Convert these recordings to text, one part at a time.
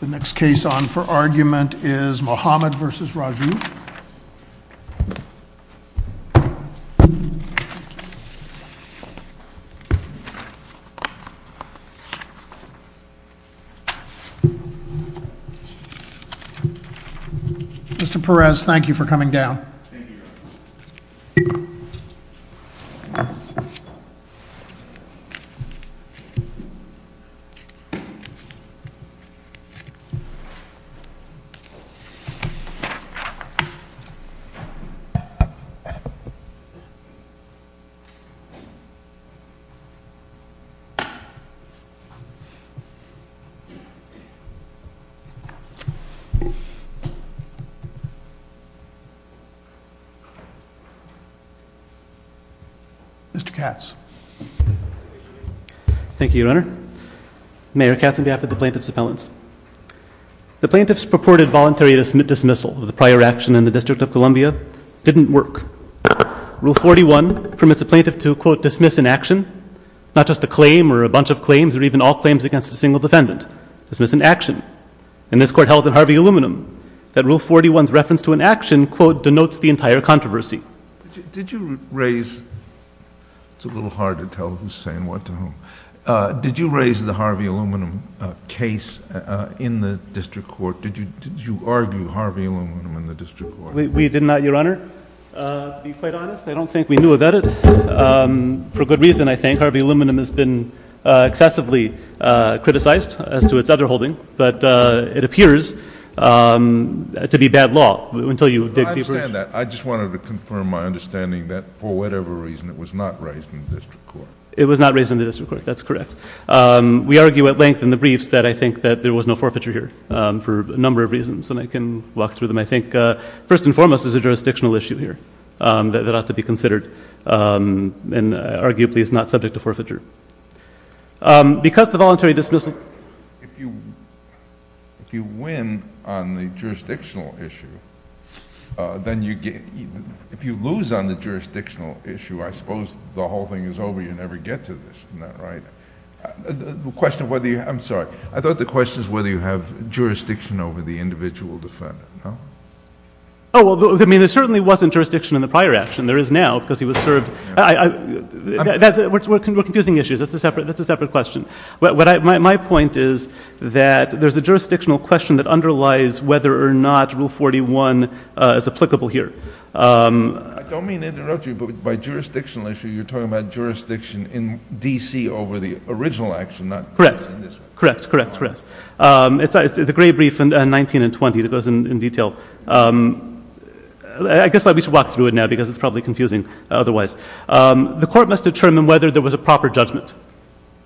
The next case on for argument is Mohamad v. Rajoub. Mr. Perez, thank you for coming down. Mr. Katz, thank you, your honor. Thank you, your honor. Mayor Katz, on behalf of the plaintiff's appellants. The plaintiff's purported voluntary dismissal of the prior action in the District of Columbia didn't work. Rule 41 permits a plaintiff to, quote, dismiss an action, not just a claim or a bunch of claims or even all claims against a single defendant. Dismiss an action. And this court held at Harvey Aluminum that Rule 41's reference to an action, quote, denotes the entire controversy. Did you raise, it's a little hard to tell who's saying what to whom, did you raise the Harvey Aluminum case in the district court? Did you argue Harvey Aluminum in the district court? We did not, your honor. To be quite honest, I don't think we knew about it. For good reason, I think. Harvey Aluminum has been excessively criticized as to its underholding, but it appears to be bad law. Well, I understand that. I just wanted to confirm my understanding that for whatever reason it was not raised in the district court. It was not raised in the district court. That's correct. We argue at length in the briefs that I think that there was no forfeiture here for a number of reasons, and I can walk through them, I think. First and foremost, it's a jurisdictional issue here that ought to be considered and arguably is not subject to forfeiture. Because the voluntary dismissal... If you win on the jurisdictional issue, then you get... If you lose on the jurisdictional issue, I suppose the whole thing is over. You never get to this. Isn't that right? The question of whether you... I'm sorry. I thought the question was whether you have jurisdiction over the individual defendant. No? Oh, I mean, there certainly wasn't jurisdiction in the prior action. There is now because he was served... We're confusing issues. That's a separate question. My point is that there's a jurisdictional question that underlies whether or not Rule 41 is applicable here. I don't mean to interrupt you, but by jurisdictional issue, you're talking about jurisdiction in D.C. over the original action, not... Correct. Correct, correct, correct. It's a great brief in 19 and 20 that goes in detail. I guess we should walk through it now because it's probably confusing otherwise. The court must determine whether there was a proper judgment.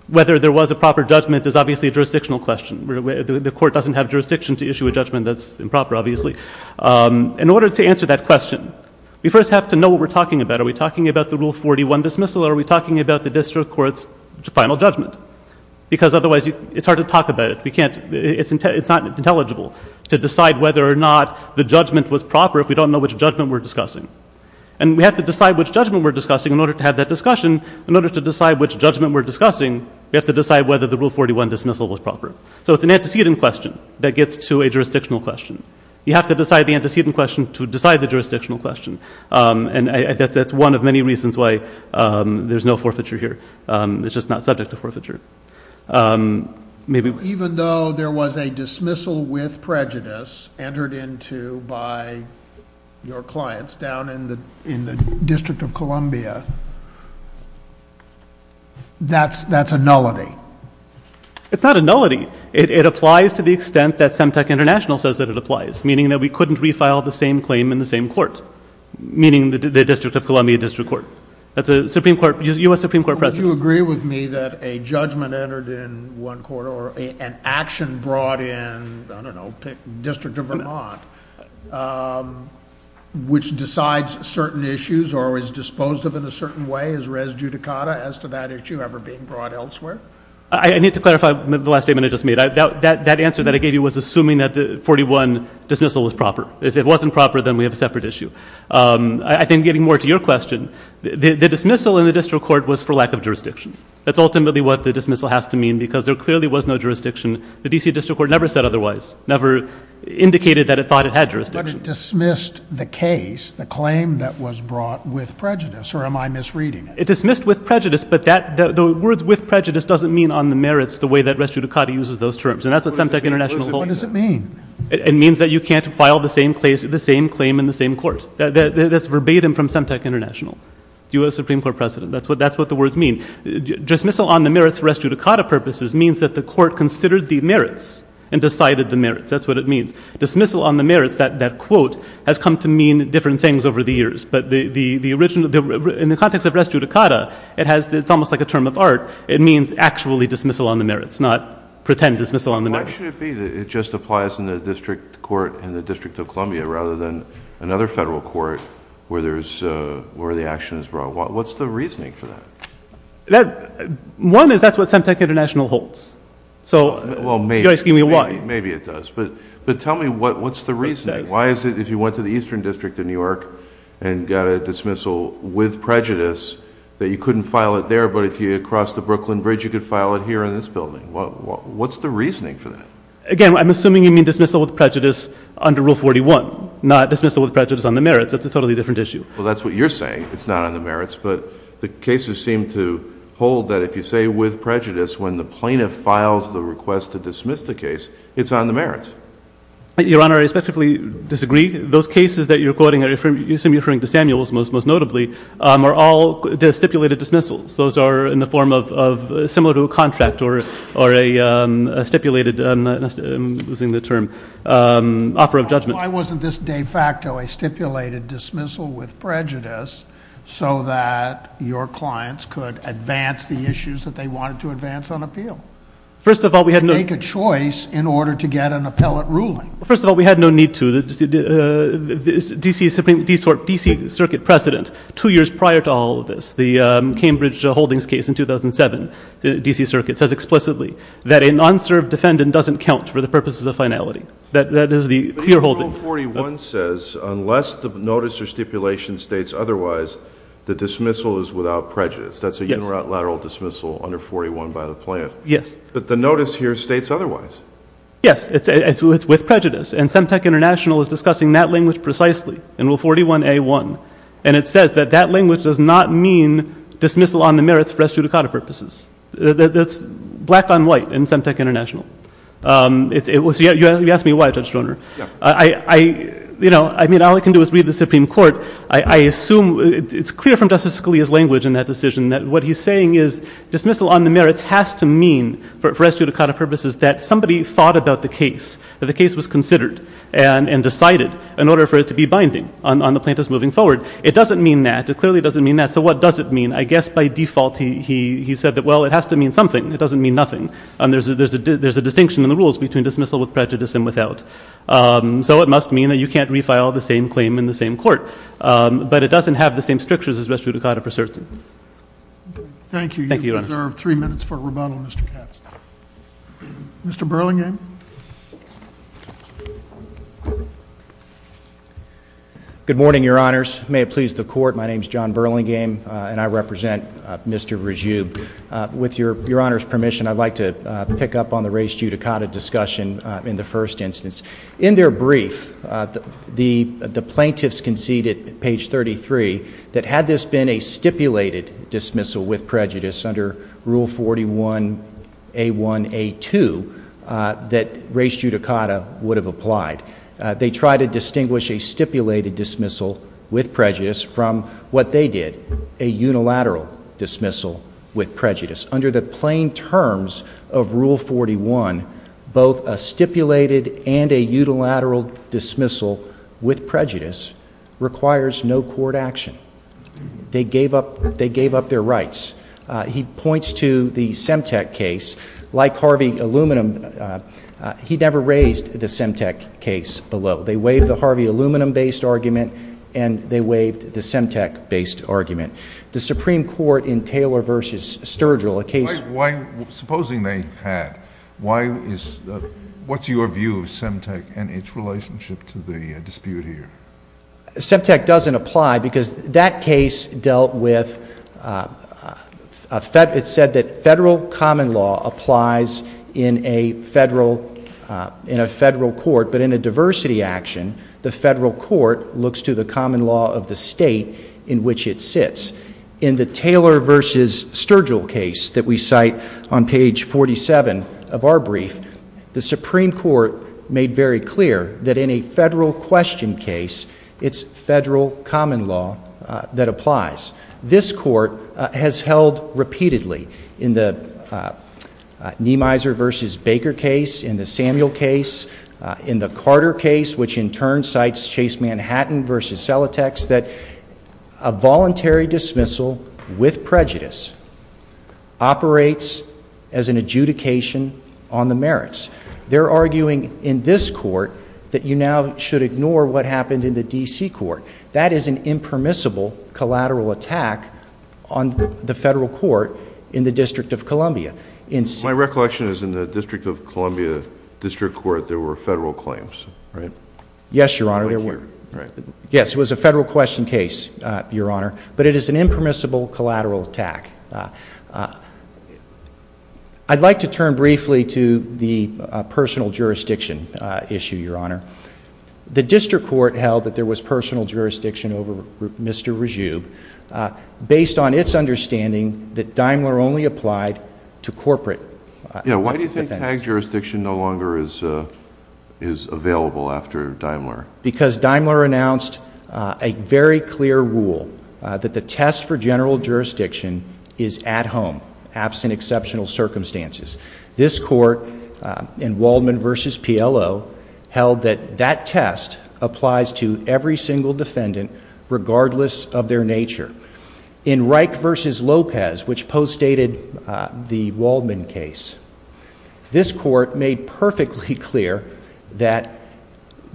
Whether there was a proper judgment is obviously a jurisdictional question. The court doesn't have jurisdiction to issue a judgment that's improper, obviously. In order to answer that question, we first have to know what we're talking about. Are we talking about the Rule 41 dismissal or are we talking about the district court's final judgment? Because otherwise, it's hard to talk about it. It's not intelligible to decide whether or not the judgment was proper if we don't know which judgment we're discussing. And, we have to decide which judgment we're discussing in order to have that discussion. In order to decide which judgment we're discussing, we have to decide whether the Rule 41 dismissal was proper. So, it's an antecedent question that gets to a jurisdictional question. You have to decide the antecedent question to decide the jurisdictional question. And, that's one of many reasons why there's no forfeiture here. It's just not subject to forfeiture. Even though there was a dismissal with prejudice entered into by your clients down in the District of Columbia, that's a nullity. It's not a nullity. It applies to the extent that Semtec International says that it applies, meaning that we couldn't refile the same claim in the same court, meaning the District of Columbia District Court. That's a U.S. Supreme Court precedent. Do you agree with me that a judgment entered in one court or an action brought in, I don't know, District of Vermont, which decides certain issues or is disposed of in a certain way is res judicata as to that issue ever being brought elsewhere? I need to clarify the last statement I just made. That answer that I gave you was assuming that the 41 dismissal was proper. If it wasn't proper, then we have a separate issue. I think getting more to your question, the dismissal in the District Court was for lack of jurisdiction. That's ultimately what the dismissal has to mean because there clearly was no jurisdiction. The D.C. District Court never said otherwise, never indicated that it thought it had jurisdiction. But it dismissed the case, the claim that was brought with prejudice, or am I misreading it? It dismissed with prejudice, but the words with prejudice doesn't mean on the merits the way that res judicata uses those terms. And that's what Semtec International believes. What does it mean? It means that you can't file the same claim in the same court. That's verbatim from Semtec International, U.S. Supreme Court precedent. That's what the words mean. Dismissal on the merits for res judicata purposes means that the court considered the merits and decided the merits. That's what it means. Dismissal on the merits, that quote, has come to mean different things over the years. But in the context of res judicata, it's almost like a term of art. Why shouldn't it be that it just applies in the District Court in the District of Columbia rather than another federal court where the action is brought? What's the reasoning for that? One is that's what Semtec International holds. So you're asking me why. Maybe it does. But tell me, what's the reasoning? Why is it if you went to the Eastern District in New York and got a dismissal with prejudice that you couldn't file it there, but if you had crossed the Brooklyn Bridge, you could file it here in this building? What's the reasoning for that? Again, I'm assuming you mean dismissal with prejudice under Rule 41, not dismissal with prejudice on the merits. That's a totally different issue. Well, that's what you're saying. It's not on the merits. But the cases seem to hold that if you say with prejudice when the plaintiff files the request to dismiss the case, it's on the merits. Your Honor, I respectfully disagree. Those cases that you're quoting, I assume you're referring to Samuel's most notably, are all stipulated dismissals. Those are in the form of similar to a contract or a stipulated, I'm losing the term, offer of judgment. Why wasn't this de facto a stipulated dismissal with prejudice so that your clients could advance the issues that they wanted to advance on appeal? First of all, we had no need to. Make a choice in order to get an appellate ruling. First of all, we had no need to. The DC Circuit precedent, two years prior to all of this, the Cambridge Holdings case in 2007, the DC Circuit says explicitly that an unserved defendant doesn't count for the purposes of finality. That is the clearholding. Rule 41 says unless the notice or stipulation states otherwise, the dismissal is without prejudice. That's a unilateral dismissal under 41 by the plaintiff. Yes. But the notice here states otherwise. Yes. It's with prejudice. And Semtec International is discussing that language precisely in Rule 41A1. And it says that that language does not mean dismissal on the merits for estudicata purposes. That's black on white in Semtec International. You asked me why, Judge Stoner. Yeah. I mean, all I can do is read the Supreme Court. I assume it's clear from Justice Scalia's language in that decision that what he's saying is dismissal on the merits has to mean for the case was considered and decided in order for it to be binding on the plaintiff's moving forward. It doesn't mean that. It clearly doesn't mean that. So what does it mean? I guess by default he said that, well, it has to mean something. It doesn't mean nothing. There's a distinction in the rules between dismissal with prejudice and without. So it must mean that you can't refile the same claim in the same court. But it doesn't have the same strictures as restituticata pursuant. Thank you. You deserve three minutes for rebuttal, Mr. Katz. Mr. Burlingame. Good morning, Your Honors. May it please the Court, my name is John Burlingame, and I represent Mr. Rajoub. With Your Honor's permission, I'd like to pick up on the restituticata discussion in the first instance. In their brief, the plaintiffs conceded, page 33, that had this been a stipulated dismissal with prejudice under Rule 41A1A2, that restituticata would have applied. They tried to distinguish a stipulated dismissal with prejudice from what they did, a unilateral dismissal with prejudice. Under the plain terms of Rule 41, both a stipulated and a unilateral dismissal with prejudice requires no court action. They gave up their rights. He points to the Semtec case. Like Harvey Aluminum, he never raised the Semtec case below. They waived the Harvey Aluminum-based argument, and they waived the Semtec-based argument. The Supreme Court in Taylor v. Sturgill, a case— Supposing they had, what's your view of Semtec and its relationship to the dispute here? Semtec doesn't apply because that case dealt with— In the Taylor v. Sturgill case that we cite on page 47 of our brief, the Supreme Court made very clear that in a federal question case, it's federal common law that applies. This Court has held repeatedly in the Neemeiser v. Baker case, in the Samuel case, in the Carter case, which in turn cites Chase Manhattan v. Selitex, that a voluntary dismissal with prejudice operates as an adjudication on the merits. They're arguing in this Court that you now should ignore what happened in the D.C. Court. That is an impermissible collateral attack on the federal court in the District of Columbia. My recollection is in the District of Columbia District Court, there were federal claims, right? Yes, Your Honor. Yes, it was a federal question case, Your Honor, but it is an impermissible collateral attack. I'd like to turn briefly to the personal jurisdiction issue, Your Honor. The District Court held that there was personal jurisdiction over Mr. Rajoub based on its understanding that Daimler only applied to corporate— Why do you think TAG jurisdiction no longer is available after Daimler? Because Daimler announced a very clear rule that the test for general jurisdiction is at home, absent exceptional circumstances. This Court in Waldman v. PLO held that that test applies to every single defendant regardless of their nature. In Reich v. Lopez, which postdated the Waldman case, this Court made perfectly clear that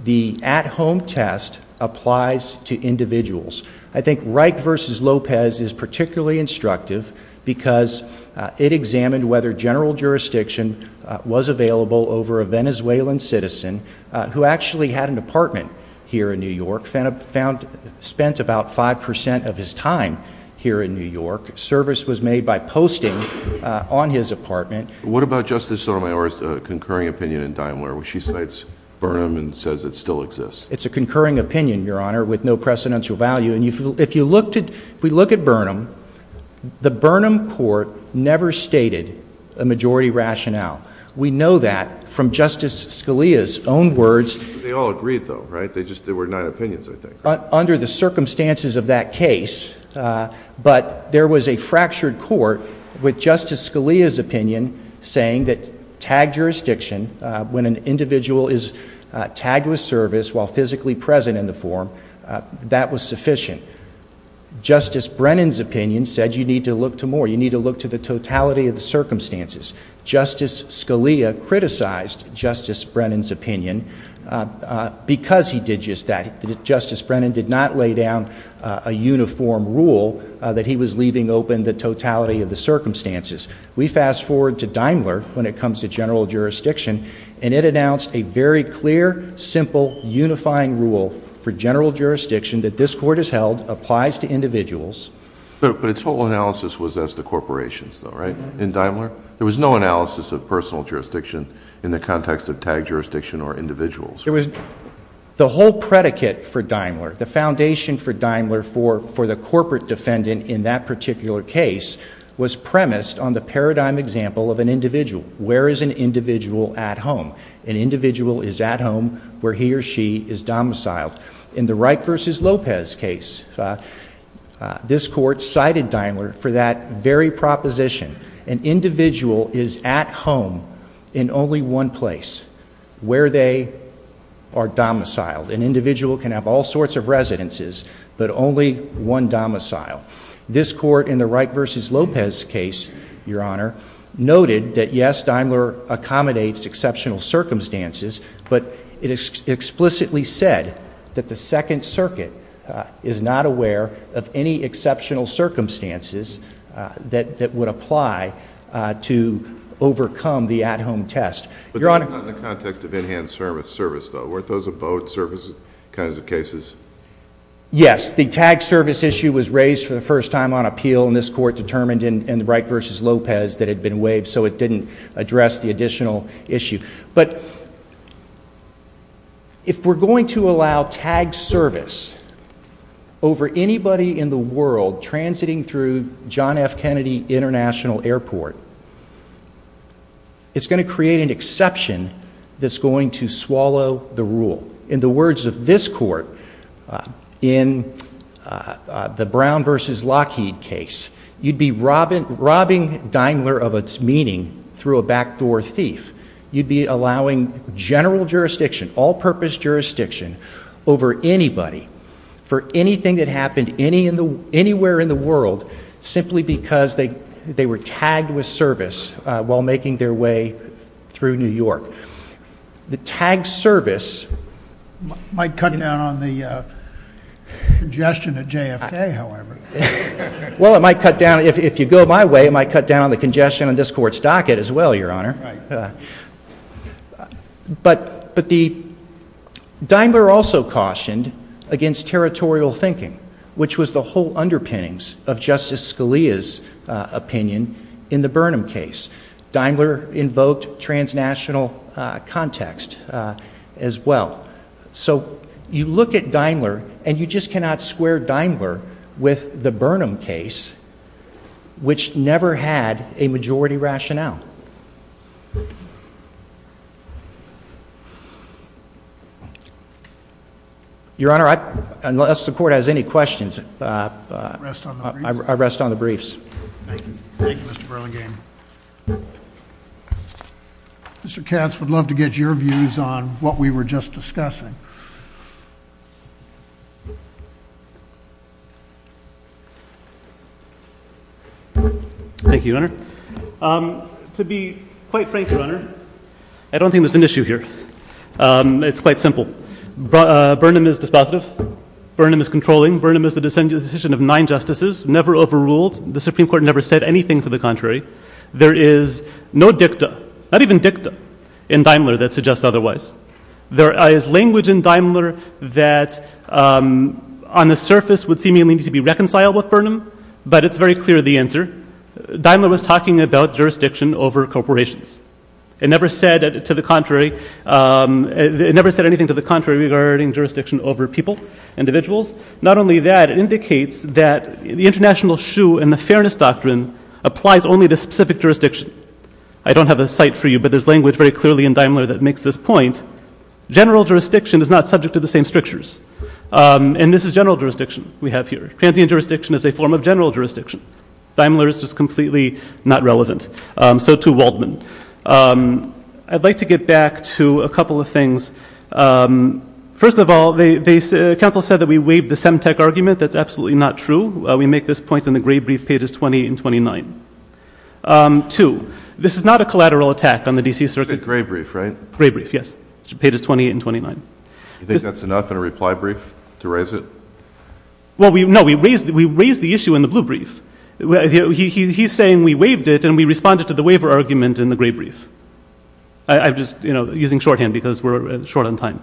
the at-home test applies to individuals. I think Reich v. Lopez is particularly instructive because it examined whether general jurisdiction was available over a Venezuelan citizen who actually had an apartment here in New York, spent about 5 percent of his time here in New York. Service was made by posting on his apartment. What about Justice Sotomayor's concurring opinion in Daimler? She cites Burnham and says it still exists. It's a concurring opinion, Your Honor, with no precedential value. If we look at Burnham, the Burnham Court never stated a majority rationale. We know that from Justice Scalia's own words. They all agreed, though, right? There were just nine opinions, I think. Under the circumstances of that case. But there was a fractured court with Justice Scalia's opinion saying that tagged jurisdiction, when an individual is tagged with service while physically present in the form, that was sufficient. Justice Brennan's opinion said you need to look to more. You need to look to the totality of the circumstances. Justice Scalia criticized Justice Brennan's opinion because he did just that. Justice Brennan did not lay down a uniform rule that he was leaving open the totality of the circumstances. We fast forward to Daimler when it comes to general jurisdiction, and it announced a very clear, simple, unifying rule for general jurisdiction that this Court has held applies to individuals. But its whole analysis was as to corporations, though, right, in Daimler? There was no analysis of personal jurisdiction in the context of tagged jurisdiction or individuals. The whole predicate for Daimler, the foundation for Daimler for the corporate defendant in that particular case, was premised on the paradigm example of an individual. Where is an individual at home? An individual is at home where he or she is domiciled. In the Reich v. Lopez case, this Court cited Daimler for that very proposition. An individual is at home in only one place where they are domiciled. An individual can have all sorts of residences, but only one domicile. This Court in the Reich v. Lopez case, Your Honor, noted that, yes, Daimler accommodates exceptional circumstances, but it explicitly said that the Second Circuit is not aware of any exceptional circumstances that would apply to overcome the at-home test. But that was not in the context of in-hand service, though. Weren't those abode services kinds of cases? Yes. The tagged service issue was raised for the first time on appeal, and this Court determined in the Reich v. Lopez that it had been waived, so it didn't address the additional issue. But if we're going to allow tagged service over anybody in the world transiting through John F. Kennedy International Airport, it's going to create an exception that's going to swallow the rule. In the words of this Court in the Brown v. Lockheed case, you'd be robbing Daimler of its meaning through a backdoor thief. You'd be allowing general jurisdiction, all-purpose jurisdiction over anybody for anything that happened anywhere in the world simply because they were tagged with service while making their way through New York. The tagged service— Might cut down on the congestion at JFK, however. Well, it might cut down—if you go my way, it might cut down on the congestion on this Court's docket as well, Your Honor. But Daimler also cautioned against territorial thinking, which was the whole underpinnings of Justice Scalia's opinion in the Burnham case. Daimler invoked transnational context as well. So you look at Daimler, and you just cannot square Daimler with the Burnham case, which never had a majority rationale. Your Honor, unless the Court has any questions, I rest on the briefs. Thank you, Mr. Burlingame. Mr. Katz would love to get your views on what we were just discussing. Thank you, Your Honor. To be quite frank, Your Honor, I don't think there's an issue here. It's quite simple. Burnham is dispositive. Burnham is controlling. Burnham is the decision of nine Justices, never overruled. The Supreme Court never said anything to the contrary. There is no dicta, not even dicta, in Daimler that suggests otherwise. There is language in Daimler that on the surface would seemingly need to be reconciled with Burnham, but it's very clear the answer. Daimler was talking about jurisdiction over corporations. It never said anything to the contrary regarding jurisdiction over people, individuals. Not only that, it indicates that the International Shoe and the Fairness Doctrine applies only to specific jurisdiction. I don't have a cite for you, but there's language very clearly in Daimler that makes this point. General jurisdiction is not subject to the same strictures, and this is general jurisdiction we have here. Transient jurisdiction is a form of general jurisdiction. Daimler is just completely not relevant, so too Waldman. I'd like to get back to a couple of things. First of all, the council said that we waived the Semtec argument. That's absolutely not true. We make this point in the gray brief, pages 20 and 29. Two, this is not a collateral attack on the D.C. Circuit. It's a gray brief, right? Gray brief, yes, pages 20 and 29. You think that's enough in a reply brief to raise it? Well, no, we raised the issue in the blue brief. He's saying we waived it, and we responded to the waiver argument in the gray brief. I'm just using shorthand because we're short on time.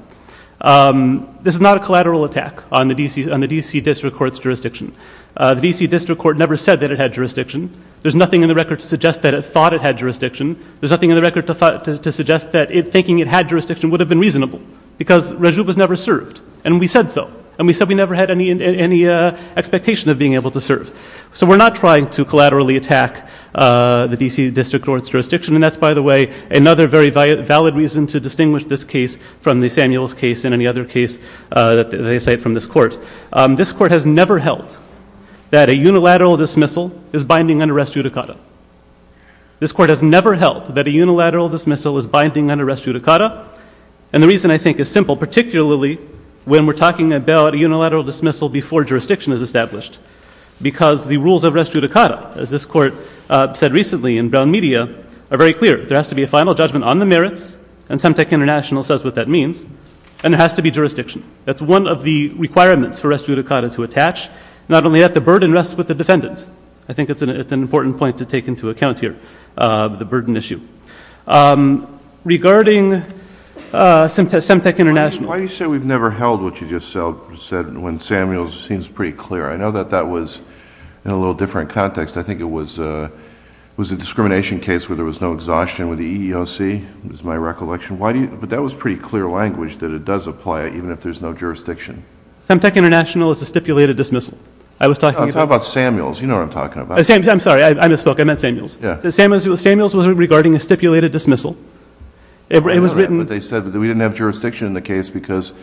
This is not a collateral attack on the D.C. District Court's jurisdiction. The D.C. District Court never said that it had jurisdiction. There's nothing in the record to suggest that it thought it had jurisdiction. There's nothing in the record to suggest that thinking it had jurisdiction would have been reasonable because Raju was never served, and we said so, and we said we never had any expectation of being able to serve. So we're not trying to collaterally attack the D.C. District Court's jurisdiction, and that's, by the way, another very valid reason to distinguish this case from the Samuels case and any other case that they cite from this court. This court has never held that a unilateral dismissal is binding under res judicata. This court has never held that a unilateral dismissal is binding under res judicata, and the reason, I think, is simple, particularly when we're talking about a unilateral dismissal before jurisdiction is established because the rules of res judicata, as this court said recently in Brown Media, are very clear. There has to be a final judgment on the merits, and Semtec International says what that means, and there has to be jurisdiction. That's one of the requirements for res judicata to attach. Not only that, the burden rests with the defendant. I think it's an important point to take into account here, the burden issue. Regarding Semtec International. Why do you say we've never held what you just said when Samuels seems pretty clear? I know that that was in a little different context. I think it was a discrimination case where there was no exhaustion with the EEOC, is my recollection. But that was pretty clear language that it does apply even if there's no jurisdiction. Semtec International is a stipulated dismissal. I'm talking about Samuels. You know what I'm talking about. I'm sorry. I misspoke. I meant Samuels. Samuels was regarding a stipulated dismissal. I know that, but they said that we didn't have jurisdiction in the case because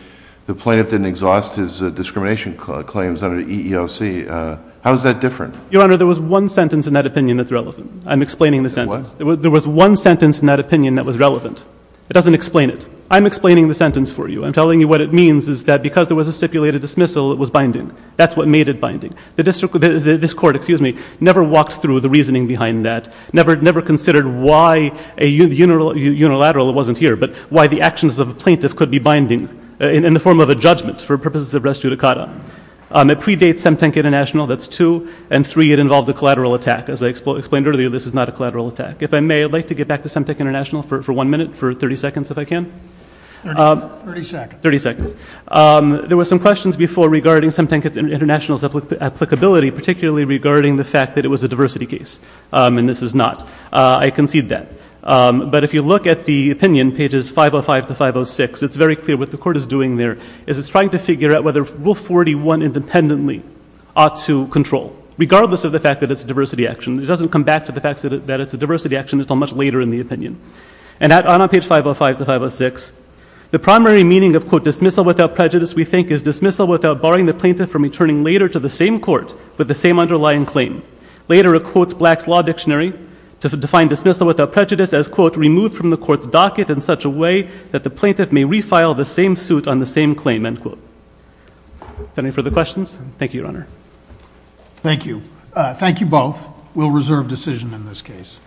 the plaintiff didn't exhaust his discrimination claims under the EEOC. How is that different? Your Honor, there was one sentence in that opinion that's relevant. I'm explaining the sentence. What? There was one sentence in that opinion that was relevant. It doesn't explain it. I'm explaining the sentence for you. I'm telling you what it means is that because there was a stipulated dismissal, it was binding. That's what made it binding. This Court never walked through the reasoning behind that, never considered why a unilateral, it wasn't here, but why the actions of a plaintiff could be binding in the form of a judgment for purposes of res judicata. It predates Semtenk International. That's two. And three, it involved a collateral attack. As I explained earlier, this is not a collateral attack. If I may, I'd like to get back to Semtenk International for one minute, for 30 seconds if I can. Thirty seconds. Thirty seconds. There were some questions before regarding Semtenk International's applicability, particularly regarding the fact that it was a diversity case, and this is not. I concede that. But if you look at the opinion, pages 505 to 506, it's very clear what the Court is doing there. It's trying to figure out whether Rule 41 independently ought to control, regardless of the fact that it's a diversity action. It doesn't come back to the fact that it's a diversity action until much later in the opinion. And on page 505 to 506, the primary meaning of, quote, dismissal without prejudice, we think, is dismissal without barring the plaintiff from returning later to the same court with the same underlying claim. Later, it quotes Black's Law Dictionary to define dismissal without prejudice as, quote, that the plaintiff may refile the same suit on the same claim, end quote. Any further questions? Thank you, Your Honor. Thank you. Thank you both. We'll reserve decision in this case.